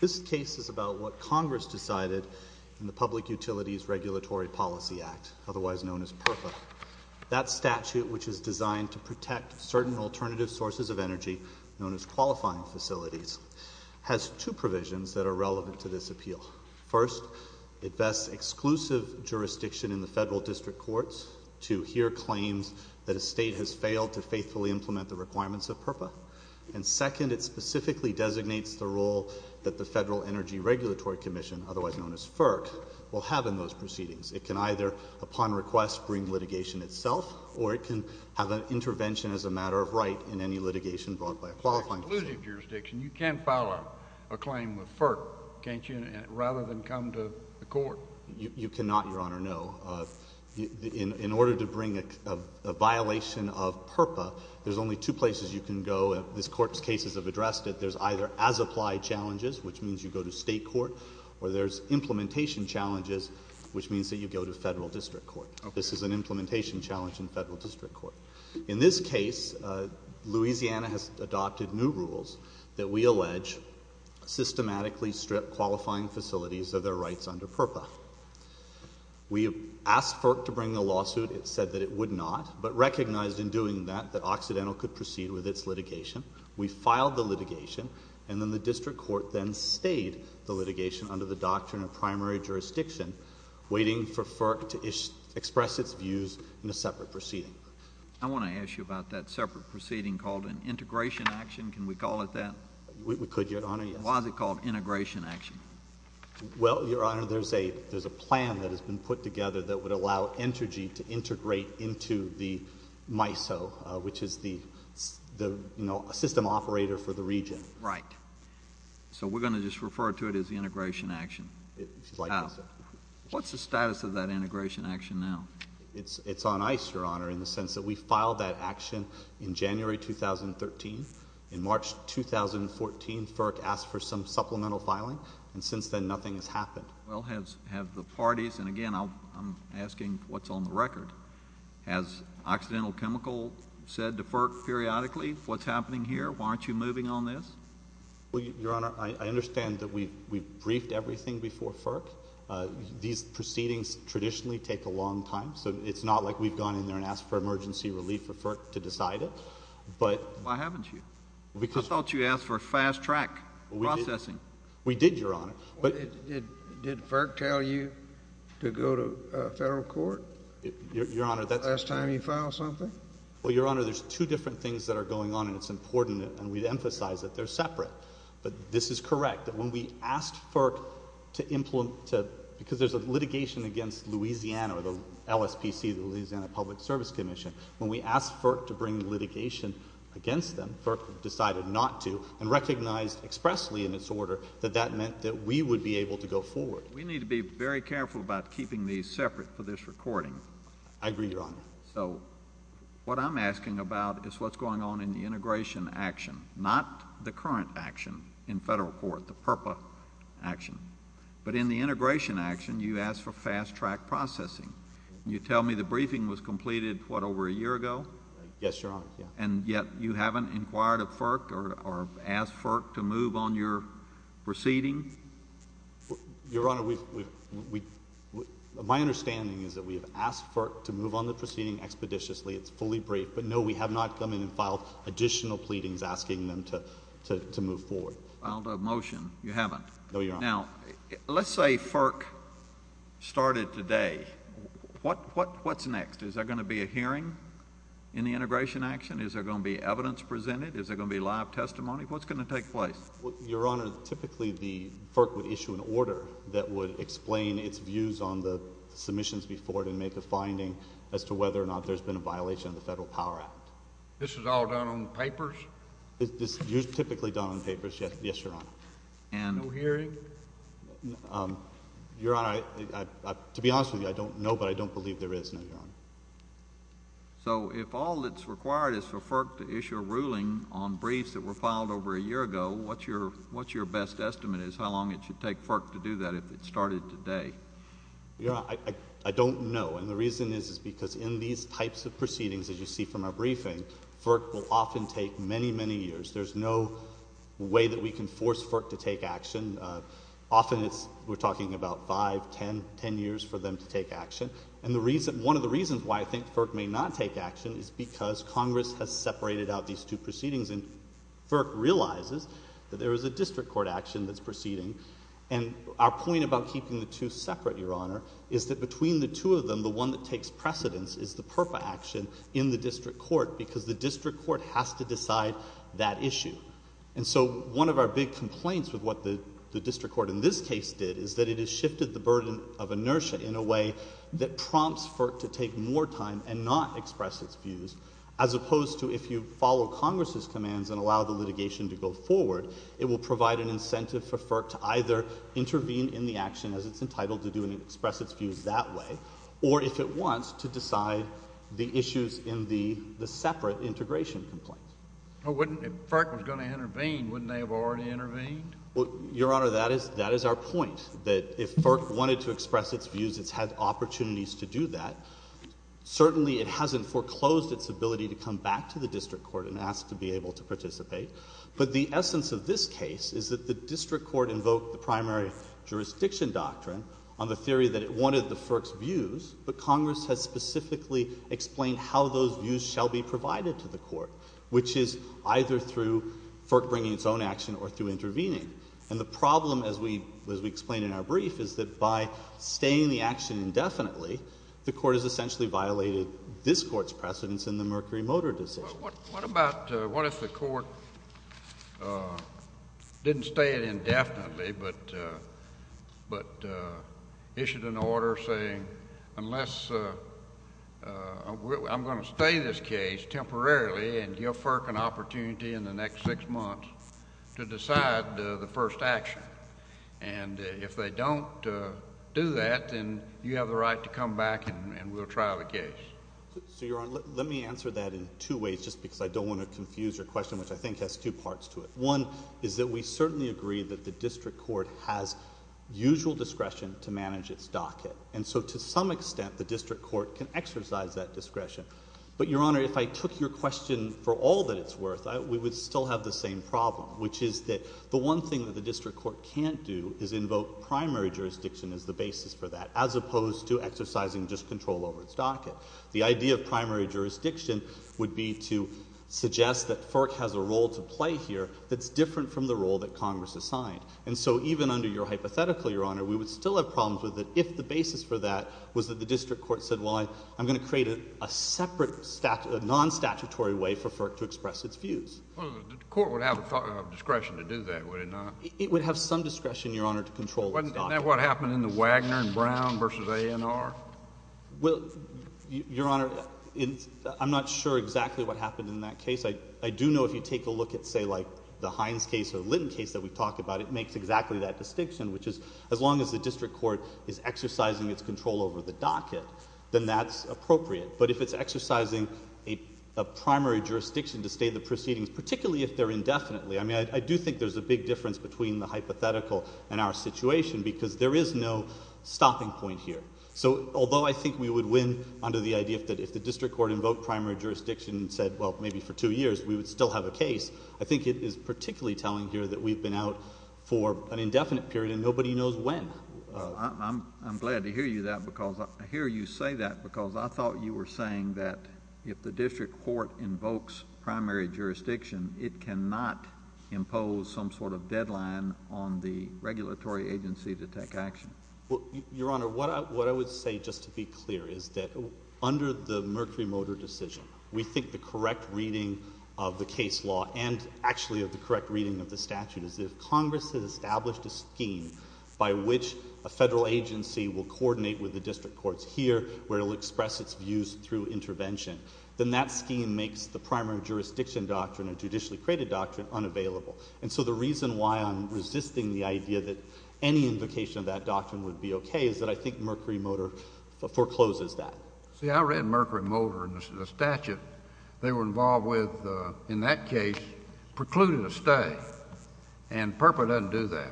This case is about what Congress decided in the Public Utilities Regulatory Policy Act, otherwise known as PERPA. That statute, which is designed to protect certain alternative sources of energy, known as qualifying facilities, has two provisions that are relevant to this appeal. First, it vests exclusive jurisdiction in the federal district courts to hear claims that a state has failed to faithfully implement the requirements of PERPA. And second, it specifically designates the role that the Federal Energy Regulatory Commission, otherwise known as FERC, will have in those proceedings. It can either, upon request, bring litigation itself, or it can have an intervention as a matter of right in any litigation brought by a qualifying facility. JUSTICE KENNEDY In terms of exclusive jurisdiction, you can file a claim with FERC, can't you, rather than come to the Court? MR. KNEEDLER You cannot, Your Honor, no. In order to bring a violation of PERPA, there's only two places you can go, and this Court's cases have addressed it. There's either as-applied challenges, which means you go to state court, or there's implementation challenges, which means that you go to federal district court. This is an implementation challenge in federal district court. In this case, Louisiana has adopted new rules that we allege systematically strip qualifying facilities of their rights under PERPA. We asked FERC to bring the lawsuit. It said that it would not, but recognized in doing that, that Occidental could proceed with its litigation. We filed the litigation, and then the district court then stayed the litigation under the doctrine of primary jurisdiction, waiting for FERC to express its views in a separate proceeding. JUSTICE KENNEDY I want to ask you about that separate proceeding called an integration action. Can we call it that? MR. KNEEDLER We could, Your Honor, yes. JUSTICE KENNEDY Why is it called integration action? MR. KNEEDLER Well, Your Honor, there's a plan that has to integrate into the MISO, which is the system operator for the region. JUSTICE KENNEDY Right. So we're going to just refer to it as the integration action? What's the status of that integration action now? MR. KNEEDLER It's on ice, Your Honor, in the sense that we filed that action in January 2013. In March 2014, FERC asked for some supplemental filing, and since then nothing has happened. JUSTICE KENNEDY Well, have the parties, and again I'm asking what's on the record, has Occidental Chemical said to FERC periodically what's happening here? Why aren't you moving on this? MR. KNEEDLER Well, Your Honor, I understand that we briefed everything before FERC. These proceedings traditionally take a long time, so it's not like we've gone in there and asked for emergency relief for FERC to decide it, but JUSTICE KENNEDY Why haven't you? I thought you asked for fast-track processing. MR. KNEEDLER We did, Your Honor, but JUSTICE KENNEDY Did FERC tell you to go to federal court the last time you filed something? MR. KNEEDLER Well, Your Honor, there's two different things that are going on, and it's important, and we emphasize that they're separate. But this is correct, that when we asked FERC to implement, because there's a litigation against Louisiana or the LSPC, the Louisiana Public Service Commission, when we asked FERC to bring litigation against them, FERC decided not to, and recognized expressly in its order that that meant that we would be able to go forward. JUSTICE KENNEDY We need to be very careful about keeping these separate for this recording. MR. KNEEDLER I agree, Your Honor. JUSTICE KENNEDY So what I'm asking about is what's going on in the integration action, not the current action in federal court, the PURPA action. But in the integration action, you asked for fast-track processing. You tell me the briefing was completed, what, over a year ago? MR. KNEEDLER Yes, Your Honor. JUSTICE KENNEDY And yet, you haven't inquired of FERC or asked FERC to move on your proceeding? MR. KNEEDLER Your Honor, we've — my understanding is that we have asked FERC to move on the proceeding expeditiously. It's fully briefed. But, no, we have not come in and filed additional pleadings asking them to move forward. JUSTICE KENNEDY Filed a motion. You haven't? MR. KNEEDLER No, Your Honor. JUSTICE KENNEDY Now, let's say FERC started today. What's next? Is there going to be a hearing in the integration action? Is there going to be evidence presented? Is there going to be live testimony? What's going to take place? MR. KNEEDLER Your Honor, typically, the FERC would issue an order that would explain its views on the submissions before it and make a finding as to whether or not there's been a violation of the Federal Power Act. JUSTICE KENNEDY This is all done on papers? MR. KNEEDLER This is typically done on papers, yes, Your Honor. JUSTICE KENNEDY No hearing? MR. KNEEDLER Your Honor, to be honest with you, I don't know, but I don't believe there is, no, Your Honor. JUSTICE KENNEDY So if all that's required is for FERC to issue a ruling on briefs that were filed over a year ago, what's your best estimate as to how long it should take FERC to do that if it started today? MR. KNEEDLER Your Honor, I don't know. And the reason is because in these types of proceedings, as you see from our briefing, FERC will often take many, many years. There's no way that we can force FERC to take action. Often it's – we're talking about five, ten, ten years for them to take action. And the reason – one of the reasons why I think FERC may not take action is because Congress has separated out these two proceedings, and FERC realizes that there is a district court action that's proceeding. And our point about keeping the two separate, Your Honor, is that between the two of them, the one that takes precedence is the PERPA action in the district court, because the district court has to decide that issue. And so one of our big complaints with what the district court in this case did is that it has shifted the burden of inertia in a way that prompts FERC to take more time and not express its views, as opposed to if you follow Congress's commands and allow the litigation to go forward, it will provide an incentive for FERC to either intervene in the action as it's entitled to do and at once to decide the issues in the separate integration complaint. Well, wouldn't – if FERC was going to intervene, wouldn't they have already intervened? Your Honor, that is our point, that if FERC wanted to express its views, it's had opportunities to do that. Certainly it hasn't foreclosed its ability to come back to the district court and ask to be able to participate. But the essence of this case is that the district court invoked the primary jurisdiction doctrine on the theory that it wanted the FERC's Congress has specifically explained how those views shall be provided to the court, which is either through FERC bringing its own action or through intervening. And the problem, as we explained in our brief, is that by staying the action indefinitely, the court has essentially violated this court's precedence in the Mercury Motor decision. But what about – what if the court didn't stay it indefinitely but issued an order saying unless – I'm going to stay this case temporarily and give FERC an opportunity in the next six months to decide the first action? And if they don't do that, then you have the right to come back and we'll trial the case. So, Your Honor, let me answer that in two ways just because I don't want to confuse your question, which I think has two parts to it. One is that we certainly agree that the district court has usual discretion to manage its docket. And so, to some extent, the district court can exercise that discretion. But, Your Honor, if I took your question for all that it's worth, we would still have the same problem, which is that the one thing that the district court can't do is invoke primary jurisdiction as the basis for that, as opposed to exercising just control over its docket. The idea of primary jurisdiction would be to suggest that FERC has a role to play here that's different from the role that Congress assigned. And so, even under your hypothetical, Your Honor, we would still have problems with it if the basis for that was that the district court said, well, I'm going to create a separate non-statutory way for FERC to express its views. Well, the court would have discretion to do that, would it not? It would have some discretion, Your Honor, to control its docket. Wasn't that what happened in the Wagner and Brown v. A&R? Well, Your Honor, I'm not sure exactly what happened in that case. I do know if you take a look at, say, like the Hines case or Linton case that we talked about, it makes exactly that distinction, which is as long as the district court is exercising its control over the docket, then that's appropriate. But if it's exercising a primary jurisdiction to state the proceedings, particularly if they're indefinitely, I mean, I do think there's a big difference between the hypothetical and our situation because there is no stopping point here. So, although I think we would win under the idea that if the district court invoked primary jurisdiction and said, well, maybe for two years, we would still have a case, I think it is particularly telling here that we've been out for an indefinite period and nobody knows when. I'm glad to hear you say that because I thought you were saying that if the district court invokes primary jurisdiction, it cannot impose some sort of deadline on the regulatory agency to take action. Your Honor, what I would say, just to be clear, is that under the Mercury Motor decision, we think the correct reading of the case law and actually the correct reading of the statute is if Congress has established a scheme by which a federal agency will coordinate with the district courts here, where it will express its views through intervention, then that scheme makes the primary jurisdiction doctrine, a judicially created doctrine, unavailable. And so the reason why I'm resisting the idea that any invocation of that doctrine would be okay is that I think Mercury Motor forecloses that. See, I read Mercury Motor in the statute they were involved with in that case precluding a stay, and PURPA doesn't do that.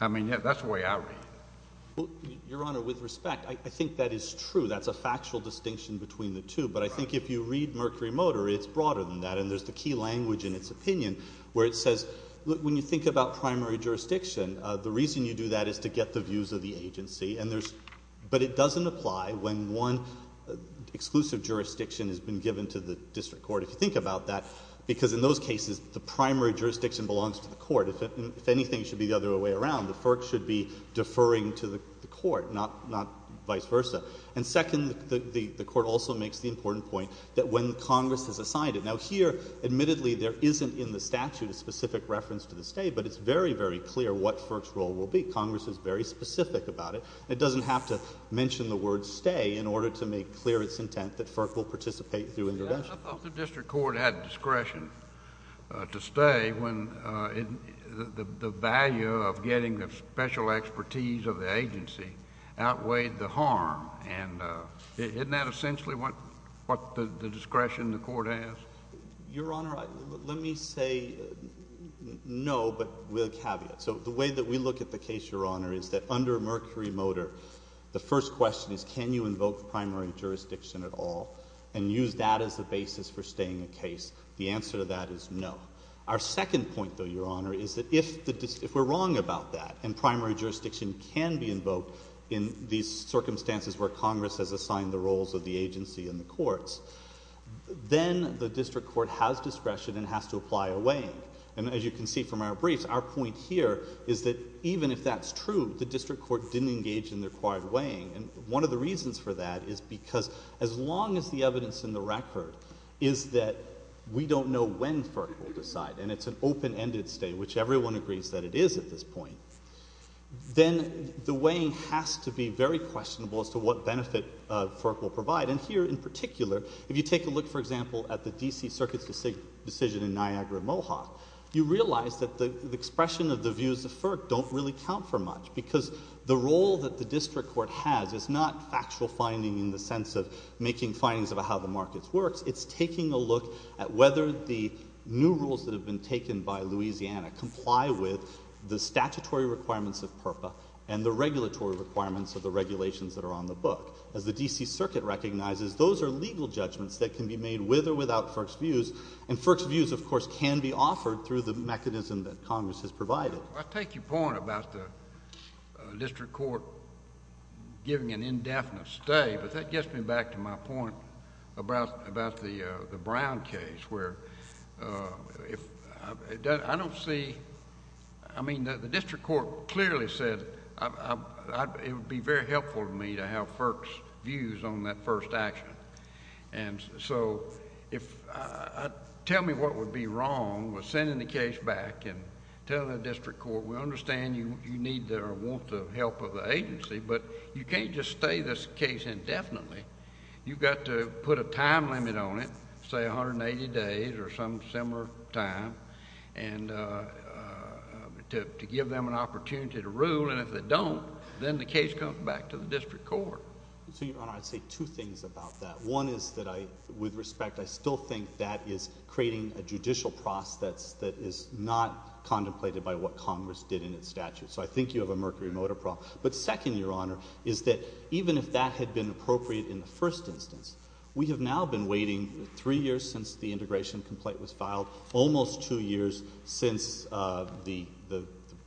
I mean, that's the way I read it. Your Honor, with respect, I think that is true. That's a factual distinction between the two, but I think if you read Mercury Motor, it's broader than that, and there's the key language in its opinion where it says, look, when you think about primary jurisdiction, the reason you do that is to get the views of the agency, and there's — but it doesn't apply when one exclusive jurisdiction has been given to the district court, if you think about that, because in those cases, the primary jurisdiction belongs to the court. If anything, it should be the other way around. The FERC should be deferring to the court, not vice versa. And second, the Court also makes the important point that when Congress has assigned it — now, here, admittedly, there isn't in the statute a specific reference to the stay, but it's very, very clear what FERC's role will be. Congress is very specific about it. It doesn't have to mention the word stay in order to make clear its intent that FERC will participate through intervention. But suppose the district court had discretion to stay when the value of getting the special expertise of the agency outweighed the harm, and isn't that essentially what the discretion the Court has? Your Honor, let me say no, but with a caveat. So the way that we look at the case, Your Honor, is that under Mercury Motor, the first question is, can you invoke primary jurisdiction at all and use that as the basis for staying a case? The answer to that is no. Our second point, though, Your Honor, is that if the — if we're wrong about that, and primary jurisdiction can be invoked in these circumstances where Congress has assigned the roles of the agency and the courts, then the district court has discretion and has to apply a weighing. And as you can see from our briefs, our point here is that even if that's true, the district court didn't engage in the required weighing. And one of the reasons for that is because as long as the evidence in the record is that we don't know when FERC will decide, and it's an open-ended stay, which everyone agrees that it is at this point, then the weighing has to be very questionable as to what benefit FERC will provide. And here, in particular, if you take a look, for example, at the D.C. Circuit's decision in Niagara-Mohawk, you realize that the expression of the views of FERC don't really count for much because the role that the district court has is not factual finding in the sense of making findings about how the market works. It's taking a look at whether the new rules that have been taken by Louisiana comply with the statutory requirements of PURPA and the regulatory requirements of the regulations that are on the book. As the D.C. Circuit recognizes, those are legal judgments that can be made with or without FERC's views. And FERC's views, of course, can be offered through the mechanism that Congress has provided. I take your point about the district court giving an indefinite stay, but that gets me back to my point about the Brown case, where if... I don't see... I mean, the district court clearly said it would be very helpful to me to have FERC's views on that first action. And so, if... tell me what would be wrong with sending the case back and tell the district court, we understand you need or want the help of the agency, but you can't just stay this case indefinitely. You've got to put a time limit on it, say 180 days or some similar time, and to give them an opportunity to rule. And if they don't, then the case comes back to the district court. So, Your Honor, I'd say two things about that. One is that I... with respect, I still think that is creating a judicial process that is not contemplated by what Congress did in its statute. So, I think you have a mercury motor problem. But second, Your Honor, is that even if that had been appropriate in the first instance, we have now been waiting three years since the integration complaint was filed, almost two years since the...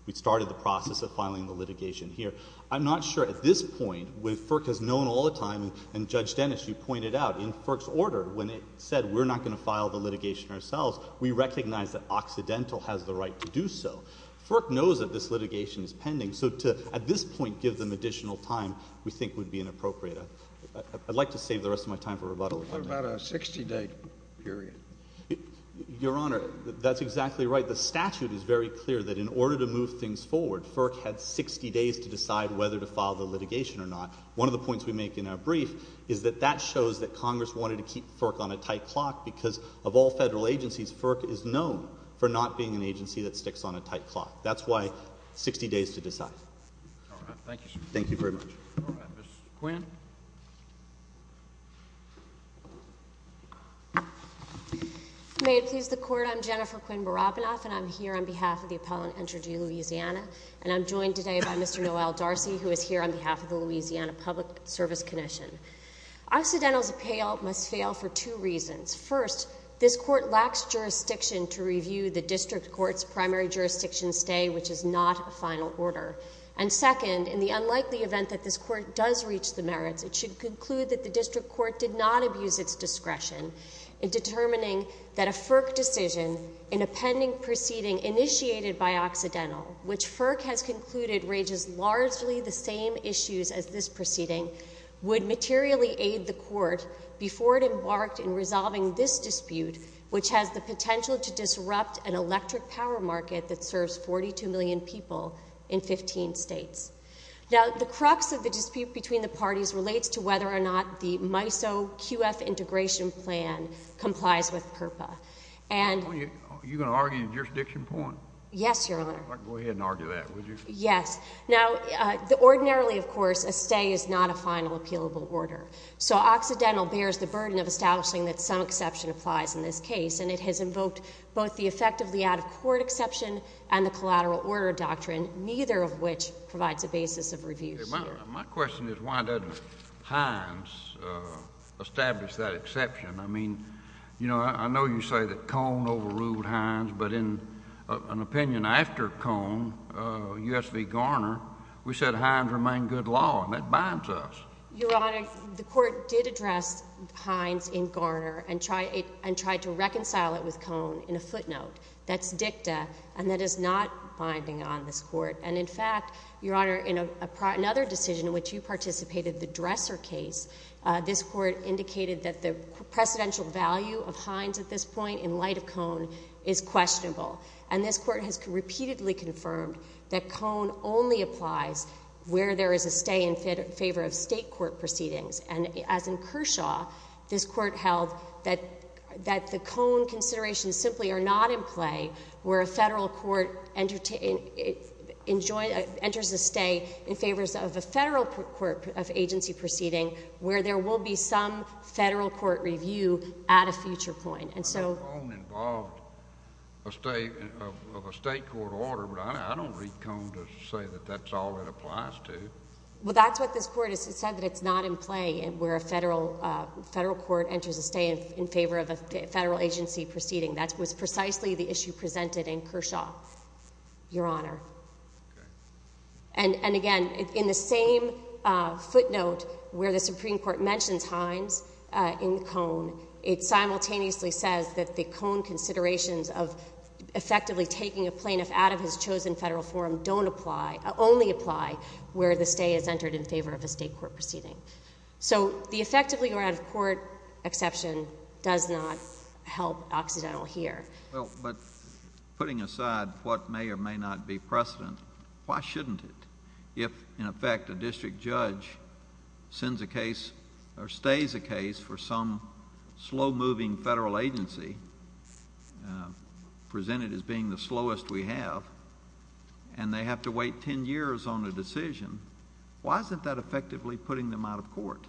we started the process of filing the litigation here. I'm not sure at this point, with FERC has known all the time, and Judge Dennis, you pointed out, in FERC's order, when it said we're not going to file the litigation ourselves, we recognize that Occidental has the right to do so. FERC knows that this litigation is pending, so to, at this point, give them additional time, we think, would be inappropriate. I'd like to save the rest of my time for rebuttal... But what about a 60-day period? Your Honor, that's exactly right. The statute is very clear that in order to move things forward, FERC had 60 days to decide whether to file the litigation or not. One of the points we make in our brief is that that shows that Congress wanted to keep FERC on a tight clock because of all federal agencies, FERC is known for not being an agency that sticks on a tight clock. That's why 60 days to decide. All right. Thank you, sir. Thank you very much. All right. Ms. Quinn? May it please the Court, I'm Jennifer Quinn Barabinoff, and I'm here on behalf of the Appellant Entry to Louisiana, and I'm joined today by Mr. Noel Darcy, who is here on behalf of the Louisiana Public Service Commission. Occidental's appeal must fail for two reasons. First, this Court lacks jurisdiction to review the District Court's primary jurisdiction stay, which is not a final order. And second, in the unlikely event that this Court does reach the merits, it should conclude that the District Court did not abuse its discretion in determining that a FERC decision in a pending proceeding initiated by Occidental, which FERC has concluded raises largely the same issues as this proceeding, would materially aid the Court before it embarked in resolving this dispute, which has the potential to disrupt an electric power market that serves 42 million people in 15 states. Now, the crux of the dispute between the parties relates to whether or not the MISO-QF integration plan complies with PURPA. And— Are you going to argue a jurisdiction point? Yes, Your Honor. All right. Go ahead and argue that, would you? Yes. Now, ordinarily, of course, a stay is not a final appealable order. So Occidental bears the burden of establishing that some exception applies in this case, and it has effectively out-of-court exception and the collateral order doctrine, neither of which provides a basis of review. My question is, why doesn't Hines establish that exception? I mean, you know, I know you say that Cone overruled Hines, but in an opinion after Cone, U.S. v. Garner, we said Hines remained good law, and that binds us. Your Honor, the Court did address Hines in Garner and tried to reconcile it with Cone in a footnote. That's dicta, and that is not binding on this Court. And, in fact, Your Honor, in another decision in which you participated, the Dresser case, this Court indicated that the precedential value of Hines at this point, in light of Cone, is questionable. And this Court has repeatedly confirmed that Cone only applies where there is a stay in favor of State court proceedings. And as in Kershaw, this Court held that the Cone consideration is simply not in play where a Federal court enters a stay in favor of a Federal court of agency proceeding where there will be some Federal court review at a future point. I know Cone involved a stay of a State court order, but I don't read Cone to say that that's all it applies to. Well, that's what this Court has said, that it's not in play where a Federal court enters a stay in favor of a Federal agency proceeding. That was precisely the issue presented in Kershaw, Your Honor. And, again, in the same footnote where the Supreme Court mentions Hines in Cone, it simultaneously says that the Cone considerations of effectively taking a plaintiff out of his chosen Federal forum don't apply, only apply where the stay is not in favor of a Federal agency proceeding. Well, but putting aside what may or may not be precedent, why shouldn't it? If, in effect, a district judge sends a case or stays a case for some slow-moving Federal agency, presented as being the slowest we have, and they have to wait 10 years on a decision, why isn't that effectively putting them out of court?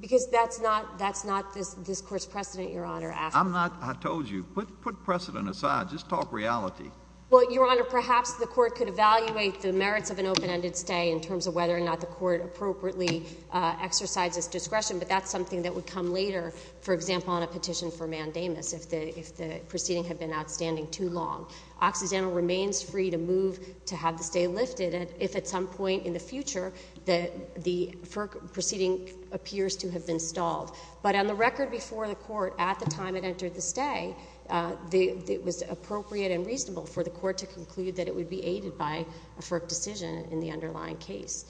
Because that's not this Court's precedent, Your Honor. I'm not. I told you. Put precedent aside. Just talk reality. Well, Your Honor, perhaps the Court could evaluate the merits of an open-ended stay in terms of whether or not the Court appropriately exercises discretion, but that's something that would come later, for example, on a petition for mandamus, if the proceeding had been outstanding too long. Occidental remains free to move to have the stay lifted if, at some point in the future, the FERC proceeding appears to have been stalled. But on the record before the Court, at the time it entered the stay, it was appropriate and reasonable for the Court to conclude that it would be aided by a FERC decision in the underlying case.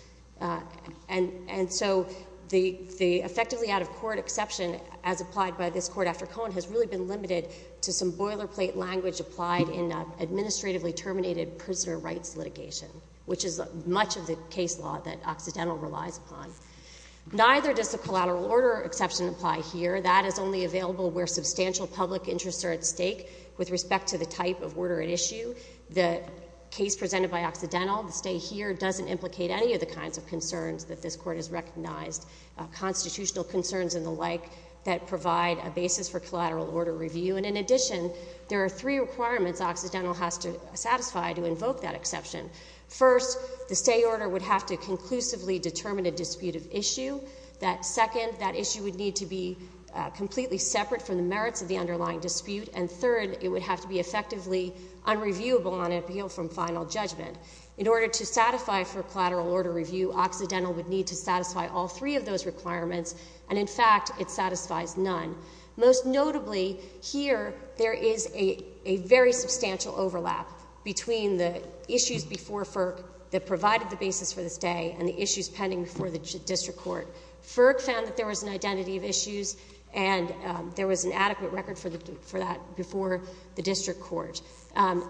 And so the effectively out-of-court exception, as applied by this Court after Cohen, has really been limited to some boilerplate language applied in an administratively terminated prisoner rights litigation, which is much of the case law that Occidental relies upon. Neither does the collateral order exception apply here. That is only available where substantial public interests are at stake with respect to the type of order at issue. The case presented by Occidental, the stay here, doesn't implicate any of the kinds of concerns that this Court has recognized, constitutional concerns and the like, that provide a basis for collateral order review. And in addition, there are three requirements Occidental has to satisfy to invoke that exception. First, the stay order would have to conclusively determine a dispute of issue. Second, that issue would need to be completely separate from the merits of the underlying dispute. And third, it would have to be effectively unreviewable on appeal from final judgment. In order to satisfy for collateral order review, Occidental would need to satisfy all three of those requirements, and in fact, it satisfies none. Most notably, here there is a very substantial overlap between the issues before FERC that provided the basis for the stay and the issues pending before the District Court. FERC found that there was an identity of issues and there was an adequate record for that before the District Court.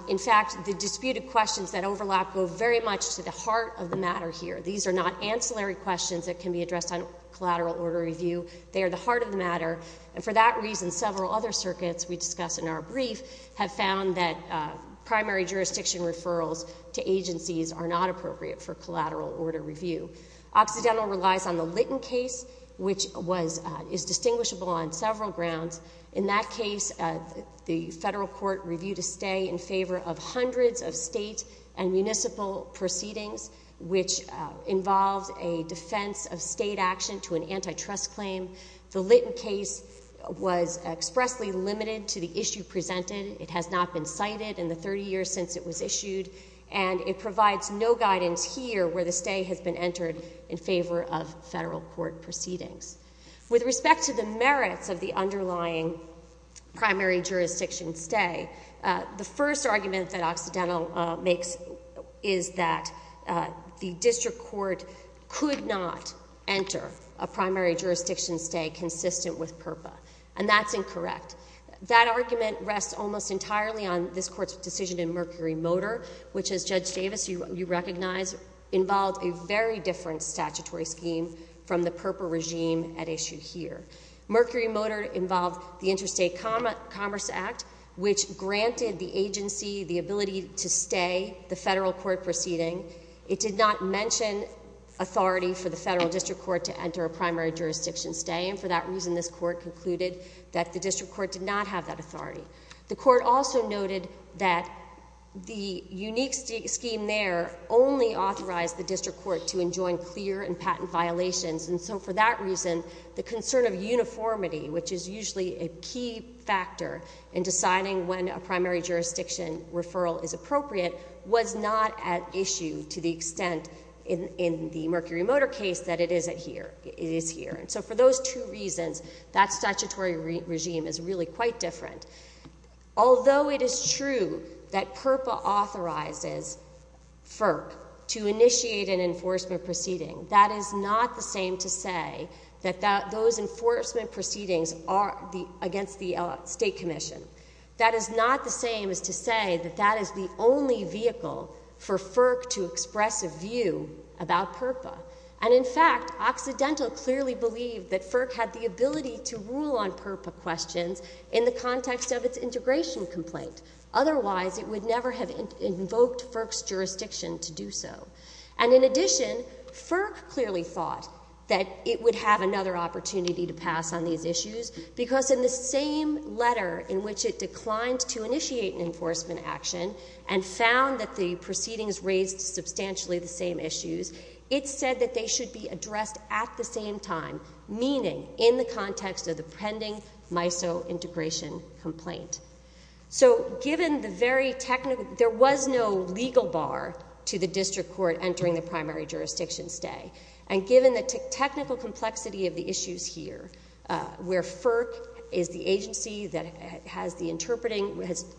In fact, the disputed questions that overlap go very much to the heart of the matter here. These are not ancillary questions that can be addressed on collateral order review. They are the heart of the matter. And for that reason, several other circuits we discuss in our brief have found that primary jurisdiction referrals to agencies are not appropriate for collateral order review. Occidental relies on the Litton case, which is distinguishable on several grounds. In that case, the federal court reviewed a stay in favor of hundreds of state and municipal proceedings, which involves a defense of state action to an antitrust claim. The Litton case was expressly limited to the issue presented. It has not been cited in the 30 years since it was issued, and it provides no guidance here where the stay has been entered in favor of federal court proceedings. With respect to the merits of the underlying primary jurisdiction stay, the first argument that Occidental makes is that the District Court could not enter a primary jurisdiction stay consistent with PURPA, and that's incorrect. That argument rests almost entirely on this Court's decision in Mercury Motor, which, as Judge Davis, you recognize, involved a very different statutory scheme from the PURPA regime at issue here. Mercury Motor involved the Interstate Commerce Act, which granted the agency the ability to stay the federal court proceeding. It did not mention authority for the federal District Court to enter a primary jurisdiction stay, and for that reason, this Court concluded that the District Court did not have that authority. The Court also noted that the unique scheme there only authorized the District Court to enjoin clear and patent violations, and so for that reason, the concern of uniformity, which is usually a key factor in deciding when a primary jurisdiction referral is appropriate, was not at issue to the extent in the Mercury Motor case that it is here. So for those two reasons, that statutory regime is really quite different. Although it is true that PURPA authorizes FERC to initiate an enforcement proceeding, that is not the same to say that those enforcement proceedings are against the State Commission. That is not the same as to say that that is the only vehicle for FERC to express a view about PURPA. And, in fact, Occidental clearly believed that FERC had the ability to rule on PURPA questions in the context of its integration complaint. Otherwise, it would never have invoked FERC's jurisdiction to do so. And, in addition, FERC clearly thought that it would have another opportunity to pass on these issues because in the same letter in which it declined to initiate an enforcement action and found that the proceedings raised substantially the same issues, it said that they should be addressed at the same time, meaning in the context of the pending MISO integration complaint. So given the very technical, there was no legal bar to the District Court entering the primary jurisdiction stay, and given the technical complexity of the issues here, where FERC is the agency that has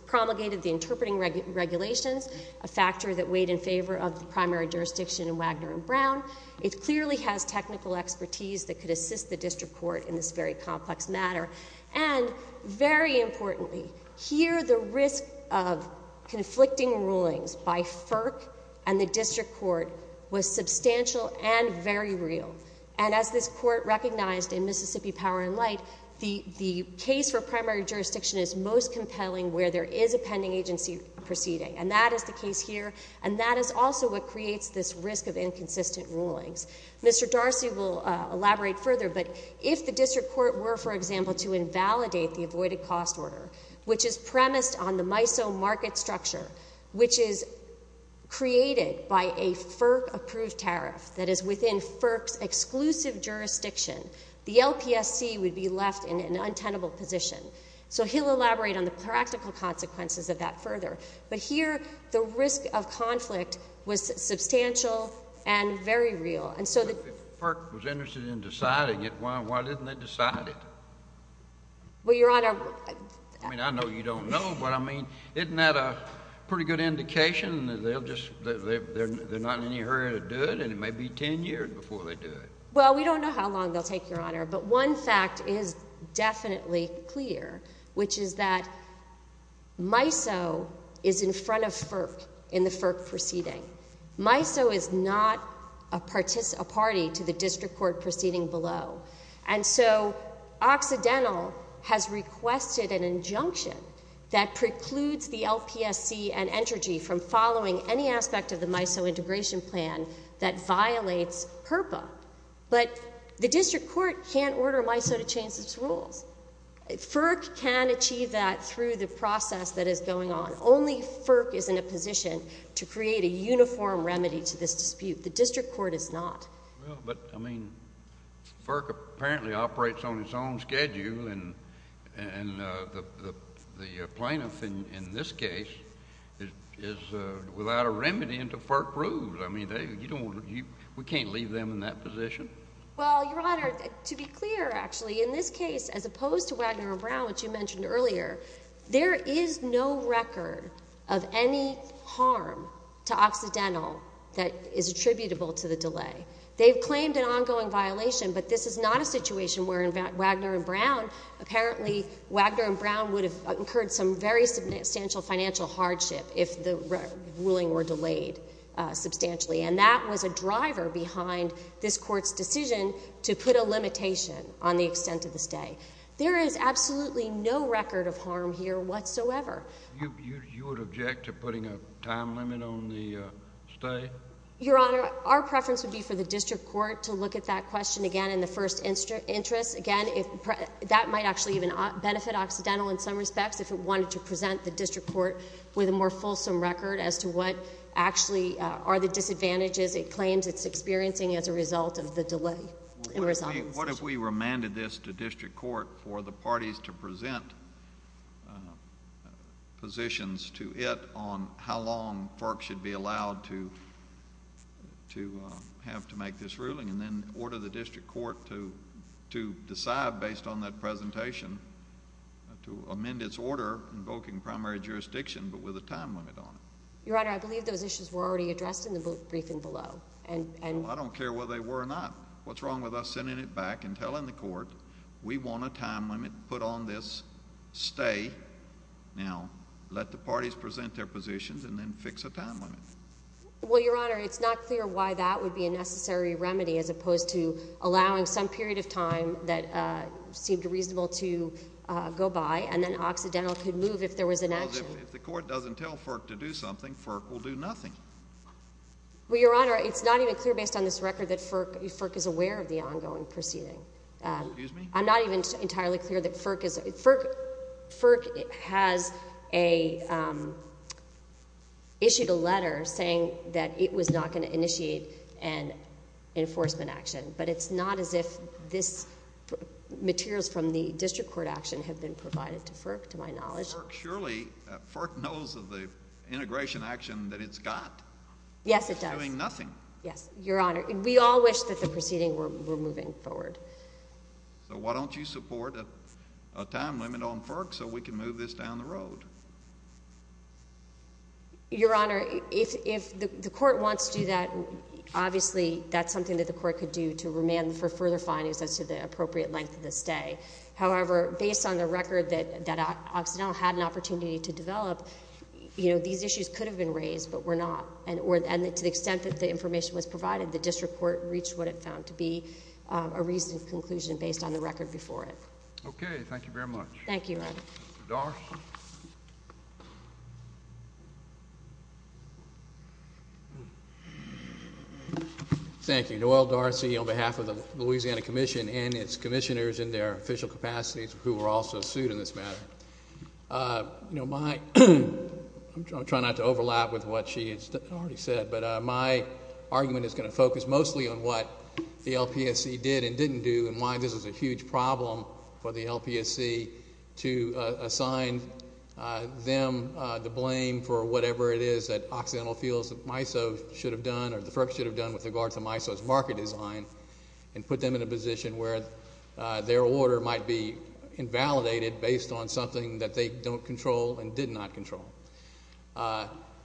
promulgated the interpreting regulations, a factor that weighed in favor of the primary jurisdiction in Wagner and Brown, it clearly has technical expertise that could assist the District Court in this very complex matter. And, very importantly, here the risk of conflicting rulings by FERC and the District Court was substantial and very real. And as this Court recognized in Mississippi Power and Light, the case for primary jurisdiction is most compelling where there is a pending agency proceeding, and that is the case here, and that is also what creates this risk of inconsistent rulings. Mr. Darcy will elaborate further, but if the District Court were, for example, to invalidate the avoided cost order, which is premised on the MISO market structure, which is created by a FERC-approved tariff that is within FERC's exclusive jurisdiction, the LPSC would be left in an untenable position. So he'll elaborate on the practical consequences of that further. But here, the risk of conflict was substantial and very real. And so the— But if FERC was interested in deciding it, why didn't they decide it? Well, Your Honor— I mean, I know you don't know, but I mean, isn't that a pretty good indication that they'll just—they're not in any hurry to do it, and it may be 10 years before they do it? Well, we don't know how long they'll take, Your Honor, but one fact is definitely clear, which is that MISO is in front of FERC in the FERC proceeding. MISO is not a party to the District Court proceeding below. And so Occidental has requested an injunction that precludes the LPSC and Entergy from following any aspect of the MISO integration plan that violates PERPA. But the District Court can't order MISO to change its rules. FERC can achieve that through the process that is going on. Only FERC is in a position to create a uniform remedy to this dispute. The District Court is not. Well, but, I mean, FERC apparently operates on its own schedule, and the plaintiff in this case is without a remedy until FERC rules. I mean, you don't—we can't leave them in that position. Well, Your Honor, to be clear, actually, in this case, as opposed to Wagner and Brown, which you mentioned earlier, there is no record of any harm to Occidental that is attributable to the delay. They've claimed an ongoing violation, but this is not a situation where in Wagner and Brown, apparently, Wagner and Brown would have incurred some very substantial financial hardship if the ruling were delayed substantially. And that was a driver behind this Court's decision to put a limitation on the extent of the stay. There is absolutely no record of harm here whatsoever. You would object to putting a time limit on the stay? Your Honor, our preference would be for the District Court to look at that question again in the first interest. Again, that might actually even benefit Occidental in some respects if it wanted to present the District Court with a more fulsome record as to what actually are the disadvantages it claims it's experiencing as a result of the delay in resolving this issue. What if we remanded this to District Court for the parties to present positions to it on how long FERC should be allowed to have to make this ruling and then order the District Court to decide, based on that presentation, to amend its order invoking primary jurisdiction but with a time limit on it? Your Honor, I believe those issues were already addressed in the briefing below, and — Well, I don't care whether they were or not. What's wrong with us sending it back and telling the Court, we want a time limit put on this stay. Now, let the parties present their positions and then fix a time limit. Well, Your Honor, it's not clear why that would be a necessary remedy as opposed to allowing some period of time that seemed reasonable to go by and then Occidental could move if there was an action. Well, if the Court doesn't tell FERC to do something, FERC will do nothing. Well, Your Honor, it's not even clear based on this record that FERC is aware of the ongoing proceeding. Excuse me? I'm not even entirely clear that FERC is — FERC has issued a letter saying that it was not going to initiate an enforcement action, but it's not as if this — materials from the District Court action have been provided to FERC, to my knowledge. FERC surely — FERC knows of the integration action that it's got. Yes, it does. It's doing nothing. Yes, Your Honor. We all wish that the proceeding were moving forward. So why don't you support a time limit on FERC so we can move this down the road? Your Honor, if the Court wants to do that, obviously that's something that the Court could do to remand for further findings as to the appropriate length of the stay. However, based on the record that Occidental had an opportunity to develop, you know, these was provided, the District Court reached what it found to be a reasonable conclusion based on the record before it. Okay. Thank you very much. Thank you, Your Honor. D'Arcy? Thank you. Noel D'Arcy on behalf of the Louisiana Commission and its commissioners in their official capacities who were also sued in this matter. You know, my — I'm trying not to overlap with what she has already said, but my argument is going to focus mostly on what the LPSC did and didn't do and why this is a huge problem for the LPSC to assign them the blame for whatever it is that Occidental feels that MISO should have done or the FERC should have done with regards to MISO's market design and put them in a position where their order might be invalidated based on something that they don't control and did not control.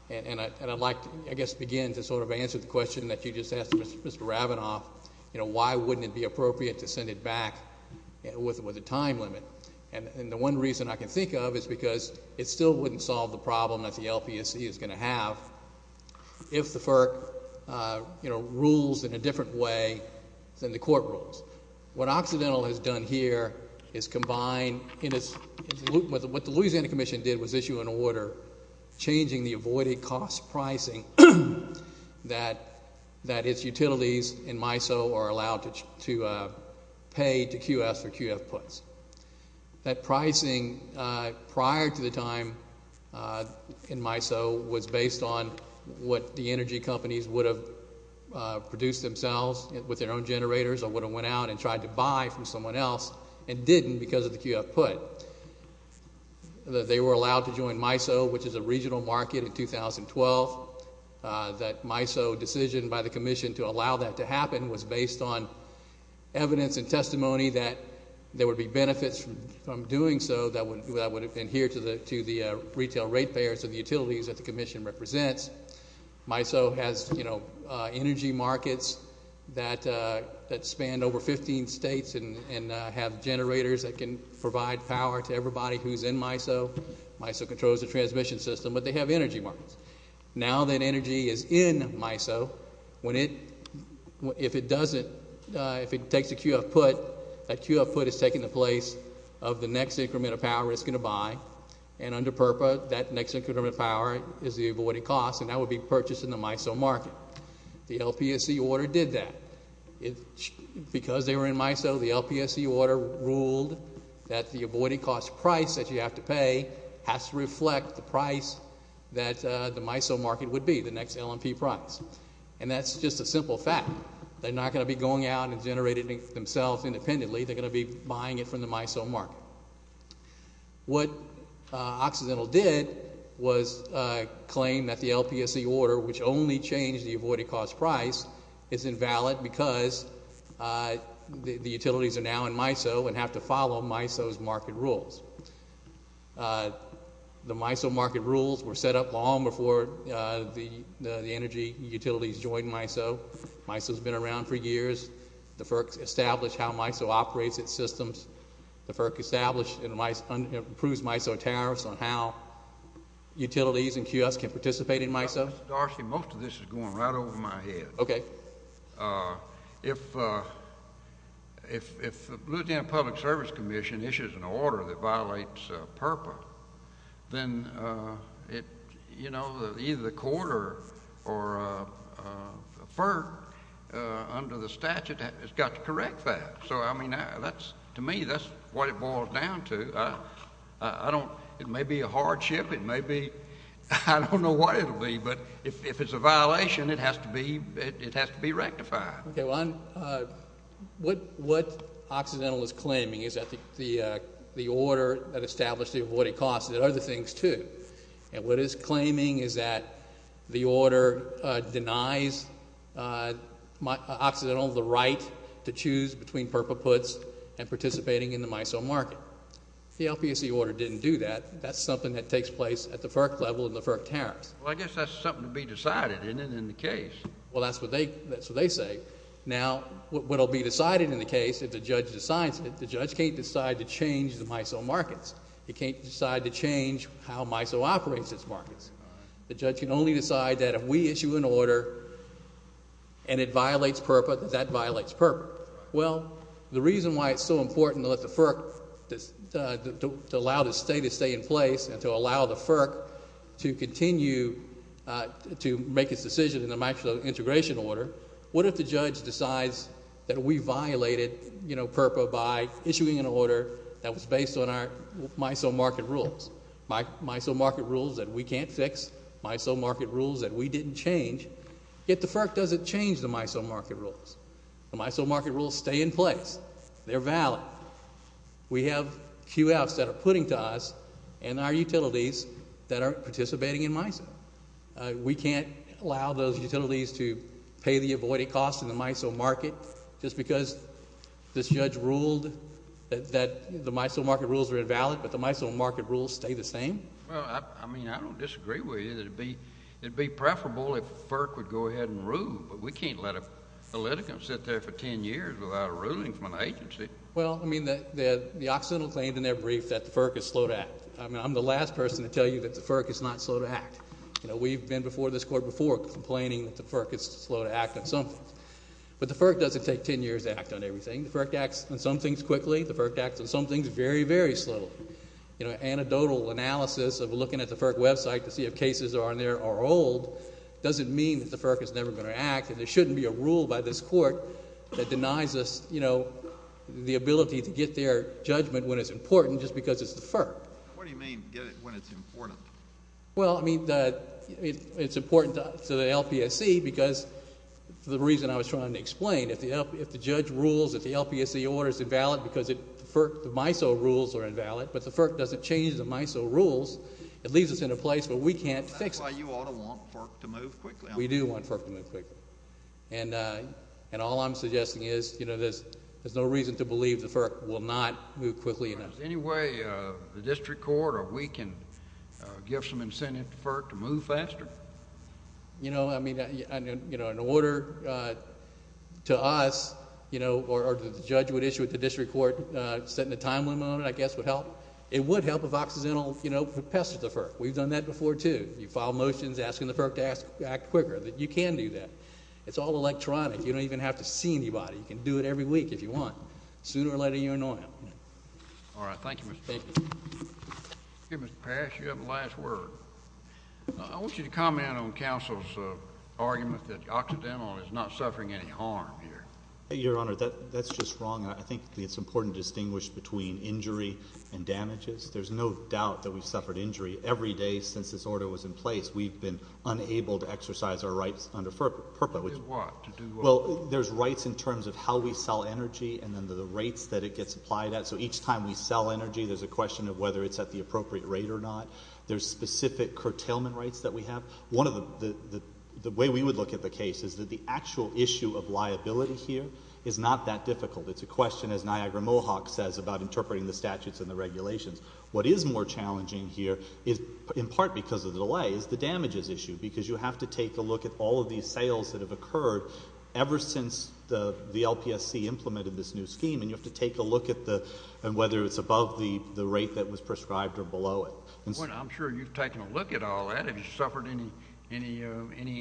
And I'd like to, I guess, begin to sort of answer the question that you just asked Mr. Rabinoff, you know, why wouldn't it be appropriate to send it back with a time limit? And the one reason I can think of is because it still wouldn't solve the problem that the LPSC is going to have if the FERC, you know, rules in a different way than the court rules. What Occidental has done here is combine in its — what the Louisiana Commission did was issue an order changing the avoided cost pricing that its utilities in MISO are allowed to pay to QF for QF puts. That pricing prior to the time in MISO was based on what the energy companies would have produced themselves with their own generators or would have went out and tried to buy from someone else and didn't because of the QF put. They were allowed to join MISO, which is a regional market in 2012. That MISO decision by the commission to allow that to happen was based on evidence and testimony that there would be benefits from doing so that would adhere to the retail rate payers of the utilities that the commission represents. MISO has, you know, energy markets that span over 15 states and have generators that can provide power to everybody who's in MISO. MISO controls the transmission system, but they have energy markets. Now that energy is in MISO, when it — if it doesn't — if it takes a QF put, that QF put is taking the place of the next increment of power it's going to buy. And under PURPA, that next increment of power is the avoided cost, and that would be purchased in the MISO market. The LPSC order did that. Because they were in MISO, the LPSC order ruled that the avoided cost price that you have to pay has to reflect the price that the MISO market would be, the next LNP price. And that's just a simple fact. They're not going to be going out and generating themselves independently. They're going to be buying it from the MISO market. What Occidental did was claim that the LPSC order, which only changed the avoided cost price, is invalid because the utilities are now in MISO and have to follow MISO's market rules. The MISO market rules were set up long before the energy utilities joined MISO. MISO's been around for years. The FERC's established how MISO operates its systems. The FERC established and approves MISO tariffs on how utilities and QFs can participate in MISO. Mr. Darcy, most of this is going right over my head. Okay. Well, if the Louisiana Public Service Commission issues an order that violates PURPA, then it—you know, either the court or the FERC under the statute has got to correct that. So, I mean, that's—to me, that's what it boils down to. I don't—it may be a hardship. It may be—I don't know what it'll be, but if it's a violation, it has to be—it has to be rectified. Okay. Well, I'm—what Occidental is claiming is that the order that established the avoided cost did other things, too. And what it's claiming is that the order denies Occidental the right to choose between PURPA puts and participating in the MISO market. The LPSC order didn't do that. That's something that takes place at the FERC level and the FERC tariffs. Well, I guess that's something to be decided, isn't it, in the case? Well, that's what they—that's what they say. Now, what'll be decided in the case, if the judge decides it, the judge can't decide to change the MISO markets. He can't decide to change how MISO operates its markets. The judge can only decide that if we issue an order and it violates PURPA, that that violates PURPA. Well, the reason why it's so important to let the FERC—to allow the statute to stay in place and to allow the FERC to continue to make its decision in the MISO integration order, what if the judge decides that we violated, you know, PURPA by issuing an order that was based on our MISO market rules, MISO market rules that we can't fix, MISO market rules that we didn't change, yet the FERC doesn't change the MISO market rules. The MISO market rules stay in place. They're valid. Now, we have QFs that are putting to us and our utilities that are participating in MISO. We can't allow those utilities to pay the avoided costs in the MISO market just because this judge ruled that the MISO market rules were invalid, but the MISO market rules stay the same? Well, I mean, I don't disagree with you that it'd be preferable if FERC would go ahead and rule, but we can't let a litigant sit there for 10 years without a ruling from an attorney. Well, I mean, the Occidental claimed in their brief that the FERC is slow to act. I mean, I'm the last person to tell you that the FERC is not slow to act. You know, we've been before this Court before complaining that the FERC is slow to act on something, but the FERC doesn't take 10 years to act on everything. The FERC acts on some things quickly. The FERC acts on some things very, very slowly. You know, anecdotal analysis of looking at the FERC website to see if cases are on there are old doesn't mean that the FERC is never going to act, and there shouldn't be a rule by this Court that denies us, you know, the ability to get their judgment when it's important just because it's the FERC. What do you mean, get it when it's important? Well, I mean, it's important to the LPSC because the reason I was trying to explain, if the judge rules that the LPSC order is invalid because the FERC, the MISO rules are invalid, but the FERC doesn't change the MISO rules, it leaves us in a place where we can't fix it. That's why you ought to want FERC to move quickly. We do want FERC to move quickly. And all I'm suggesting is, you know, there's no reason to believe the FERC will not move quickly enough. Is there any way the district court or we can give some incentive to FERC to move faster? You know, I mean, in order to us, you know, or the judge would issue it to the district court, setting a time limit on it, I guess, would help. It would help if Occidental, you know, pestered the FERC. We've done that before, too. If you file motions asking the FERC to act quicker, you can do that. It's all electronic. You don't even have to see anybody. You can do it every week if you want. Sooner or later, you'll know it. All right. Thank you, Mr. Baker. Thank you, Mr. Parrish. You have the last word. I want you to comment on counsel's argument that Occidental is not suffering any harm here. Your Honor, that's just wrong. I think it's important to distinguish between injury and damages. There's no doubt that we've suffered injury. Every day since this order was in place, we've been unable to exercise our rights under FERPA. What is what? To do what? Well, there's rights in terms of how we sell energy and then the rates that it gets applied at. So each time we sell energy, there's a question of whether it's at the appropriate rate or not. There's specific curtailment rights that we have. One of the – the way we would look at the case is that the actual issue of liability here is not that difficult. It's a question, as Niagara Mohawk says, about interpreting the statutes and the regulations. What is more challenging here is, in part because of the delay, is the damages issue because you have to take a look at all of these sales that have occurred ever since the LPSC implemented this new scheme, and you have to take a look at the – and whether it's above the rate that was prescribed or below it. Well, I'm sure you've taken a look at all that. Have you suffered any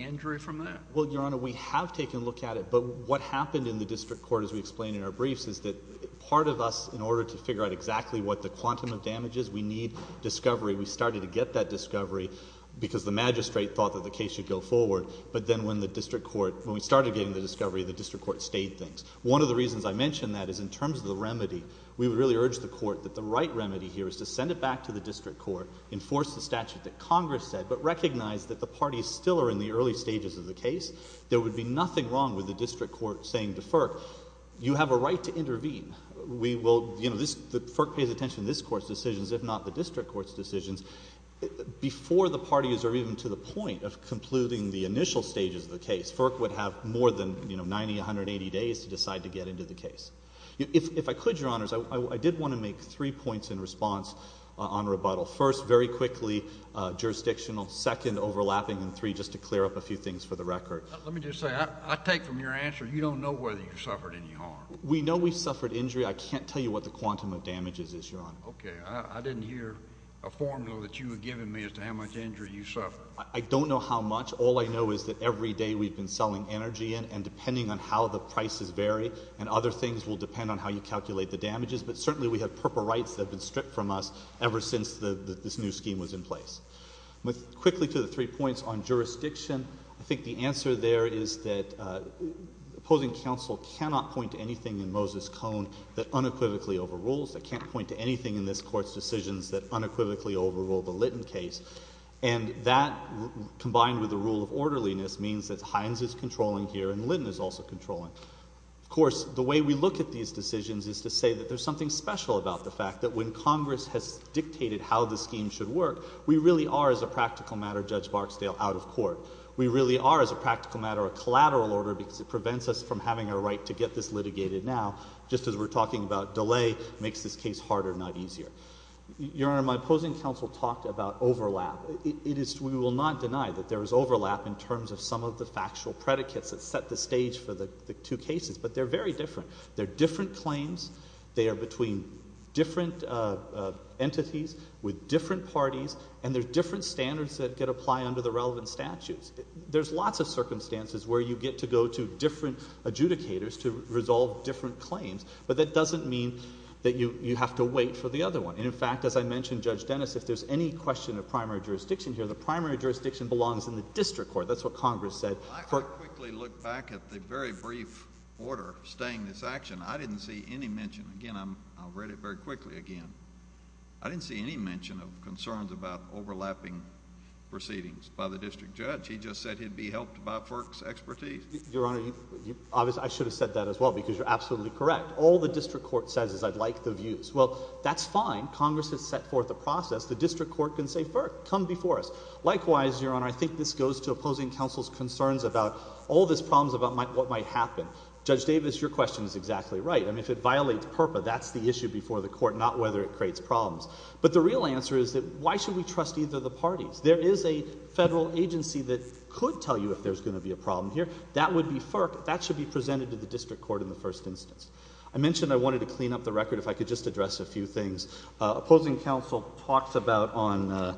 injury from that? Well, Your Honor, we have taken a look at it, but what happened in the district court as we explained in our briefs is that part of us, in order to figure out exactly what the quantum of damage is, we need discovery. We started to get that discovery because the magistrate thought that the case should go forward, but then when the district court – when we started getting the discovery, the district court stayed things. One of the reasons I mentioned that is in terms of the remedy, we would really urge the court that the right remedy here is to send it back to the district court, enforce the statute that Congress said, but recognize that the parties still are in the early stages of the case. There would be nothing wrong with the district court saying to FERC, you have a right to intervene. We will – you know, this – FERC pays attention to this Court's decisions, if not the district court's decisions. Before the parties are even to the point of concluding the initial stages of the case, FERC would have more than, you know, 90, 180 days to decide to get into the case. If I could, Your Honors, I did want to make three points in response on rebuttal. First, very quickly, jurisdictional. Second, overlapping. And three, just to clear up a few things for the record. Let me just say, I take from your answer, you don't know whether you suffered any harm. We know we suffered injury. I can't tell you what the quantum of damage is, Your Honor. Okay. I didn't hear a formula that you had given me as to how much injury you suffered. I don't know how much. All I know is that every day we've been selling energy in, and depending on how the prices vary, and other things will depend on how you calculate the damages, but certainly we have purple rights that have been stripped from us ever since this new scheme was in place. Quickly, to the three points on jurisdiction, I think the answer there is that opposing counsel cannot point to anything in Moses Cone that unequivocally overrules, that can't point to anything in this Court's decisions that unequivocally overrule the Lytton case, and that, combined with the rule of orderliness, means that Hines is controlling here and Lytton is also controlling. Of course, the way we look at these decisions is to say that there's something special about the fact that when Congress has dictated how the scheme should work, we really are, as a practical matter, Judge Barksdale, out of court. We really are, as a practical matter, a collateral order because it prevents us from having a right to get this litigated now, just as we're talking about delay makes this case harder, not easier. Your Honor, my opposing counsel talked about overlap. It is, we will not deny that there is overlap in terms of some of the factual predicates that set the stage for the two cases, but they're very different. They're different claims. They are between different entities with different parties, and there are different standards that could apply under the relevant statutes. There's lots of circumstances where you get to go to different adjudicators to resolve different claims, but that doesn't mean that you have to wait for the other one. And, in fact, as I mentioned, Judge Dennis, if there's any question of primary jurisdiction here, the primary jurisdiction belongs in the district court. That's what Congress said. Well, I would quickly look back at the very brief order staying this action. I didn't see any mention, again, I'll read it very quickly again. I didn't see any mention of concerns about overlapping proceedings by the district judge. He just said he'd be helped by FERC's expertise. Your Honor, I should have said that as well because you're absolutely correct. All the district court says is, I'd like the views. Well, that's fine. Congress has set forth a process. The district court can say, FERC, come before us. Likewise, Your Honor, I think this goes to opposing counsel's concerns about all this problems about what might happen. Judge Davis, your question is exactly right. I mean, if it violates PURPA, that's the issue before the court, not whether it creates problems. But the real answer is that why should we trust either of the parties? There is a federal agency that could tell you if there's going to be a problem here. That would be FERC. That should be presented to the district court in the first instance. I mentioned I wanted to clean up the record if I could just address a few things. Opposing counsel talks about on,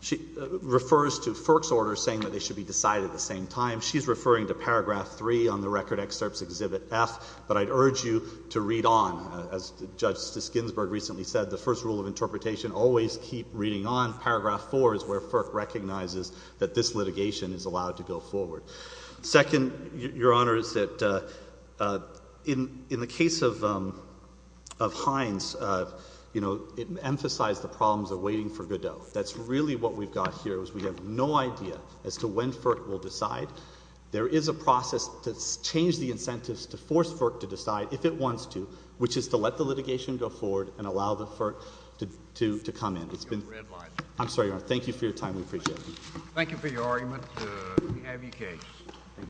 she refers to FERC's order saying that they should be decided at the same time. She's referring to paragraph 3 on the record excerpts exhibit F, but I'd urge you to read on. As Judge Ginsburg recently said, the first rule of interpretation, always keep reading on. Paragraph 4 is where FERC recognizes that this litigation is allowed to go forward. Second, Your Honor, is that in the case of Hines, you know, it emphasized the problems of waiting for Godot. That's really what we've got here is we have no idea as to when FERC will decide. There is a process to change the incentives to force FERC to decide if it wants to, which is to let the litigation go forward and allow the FERC to come in. It's been— I'm sorry, Your Honor. We appreciate it. Thank you for your argument. We have your case.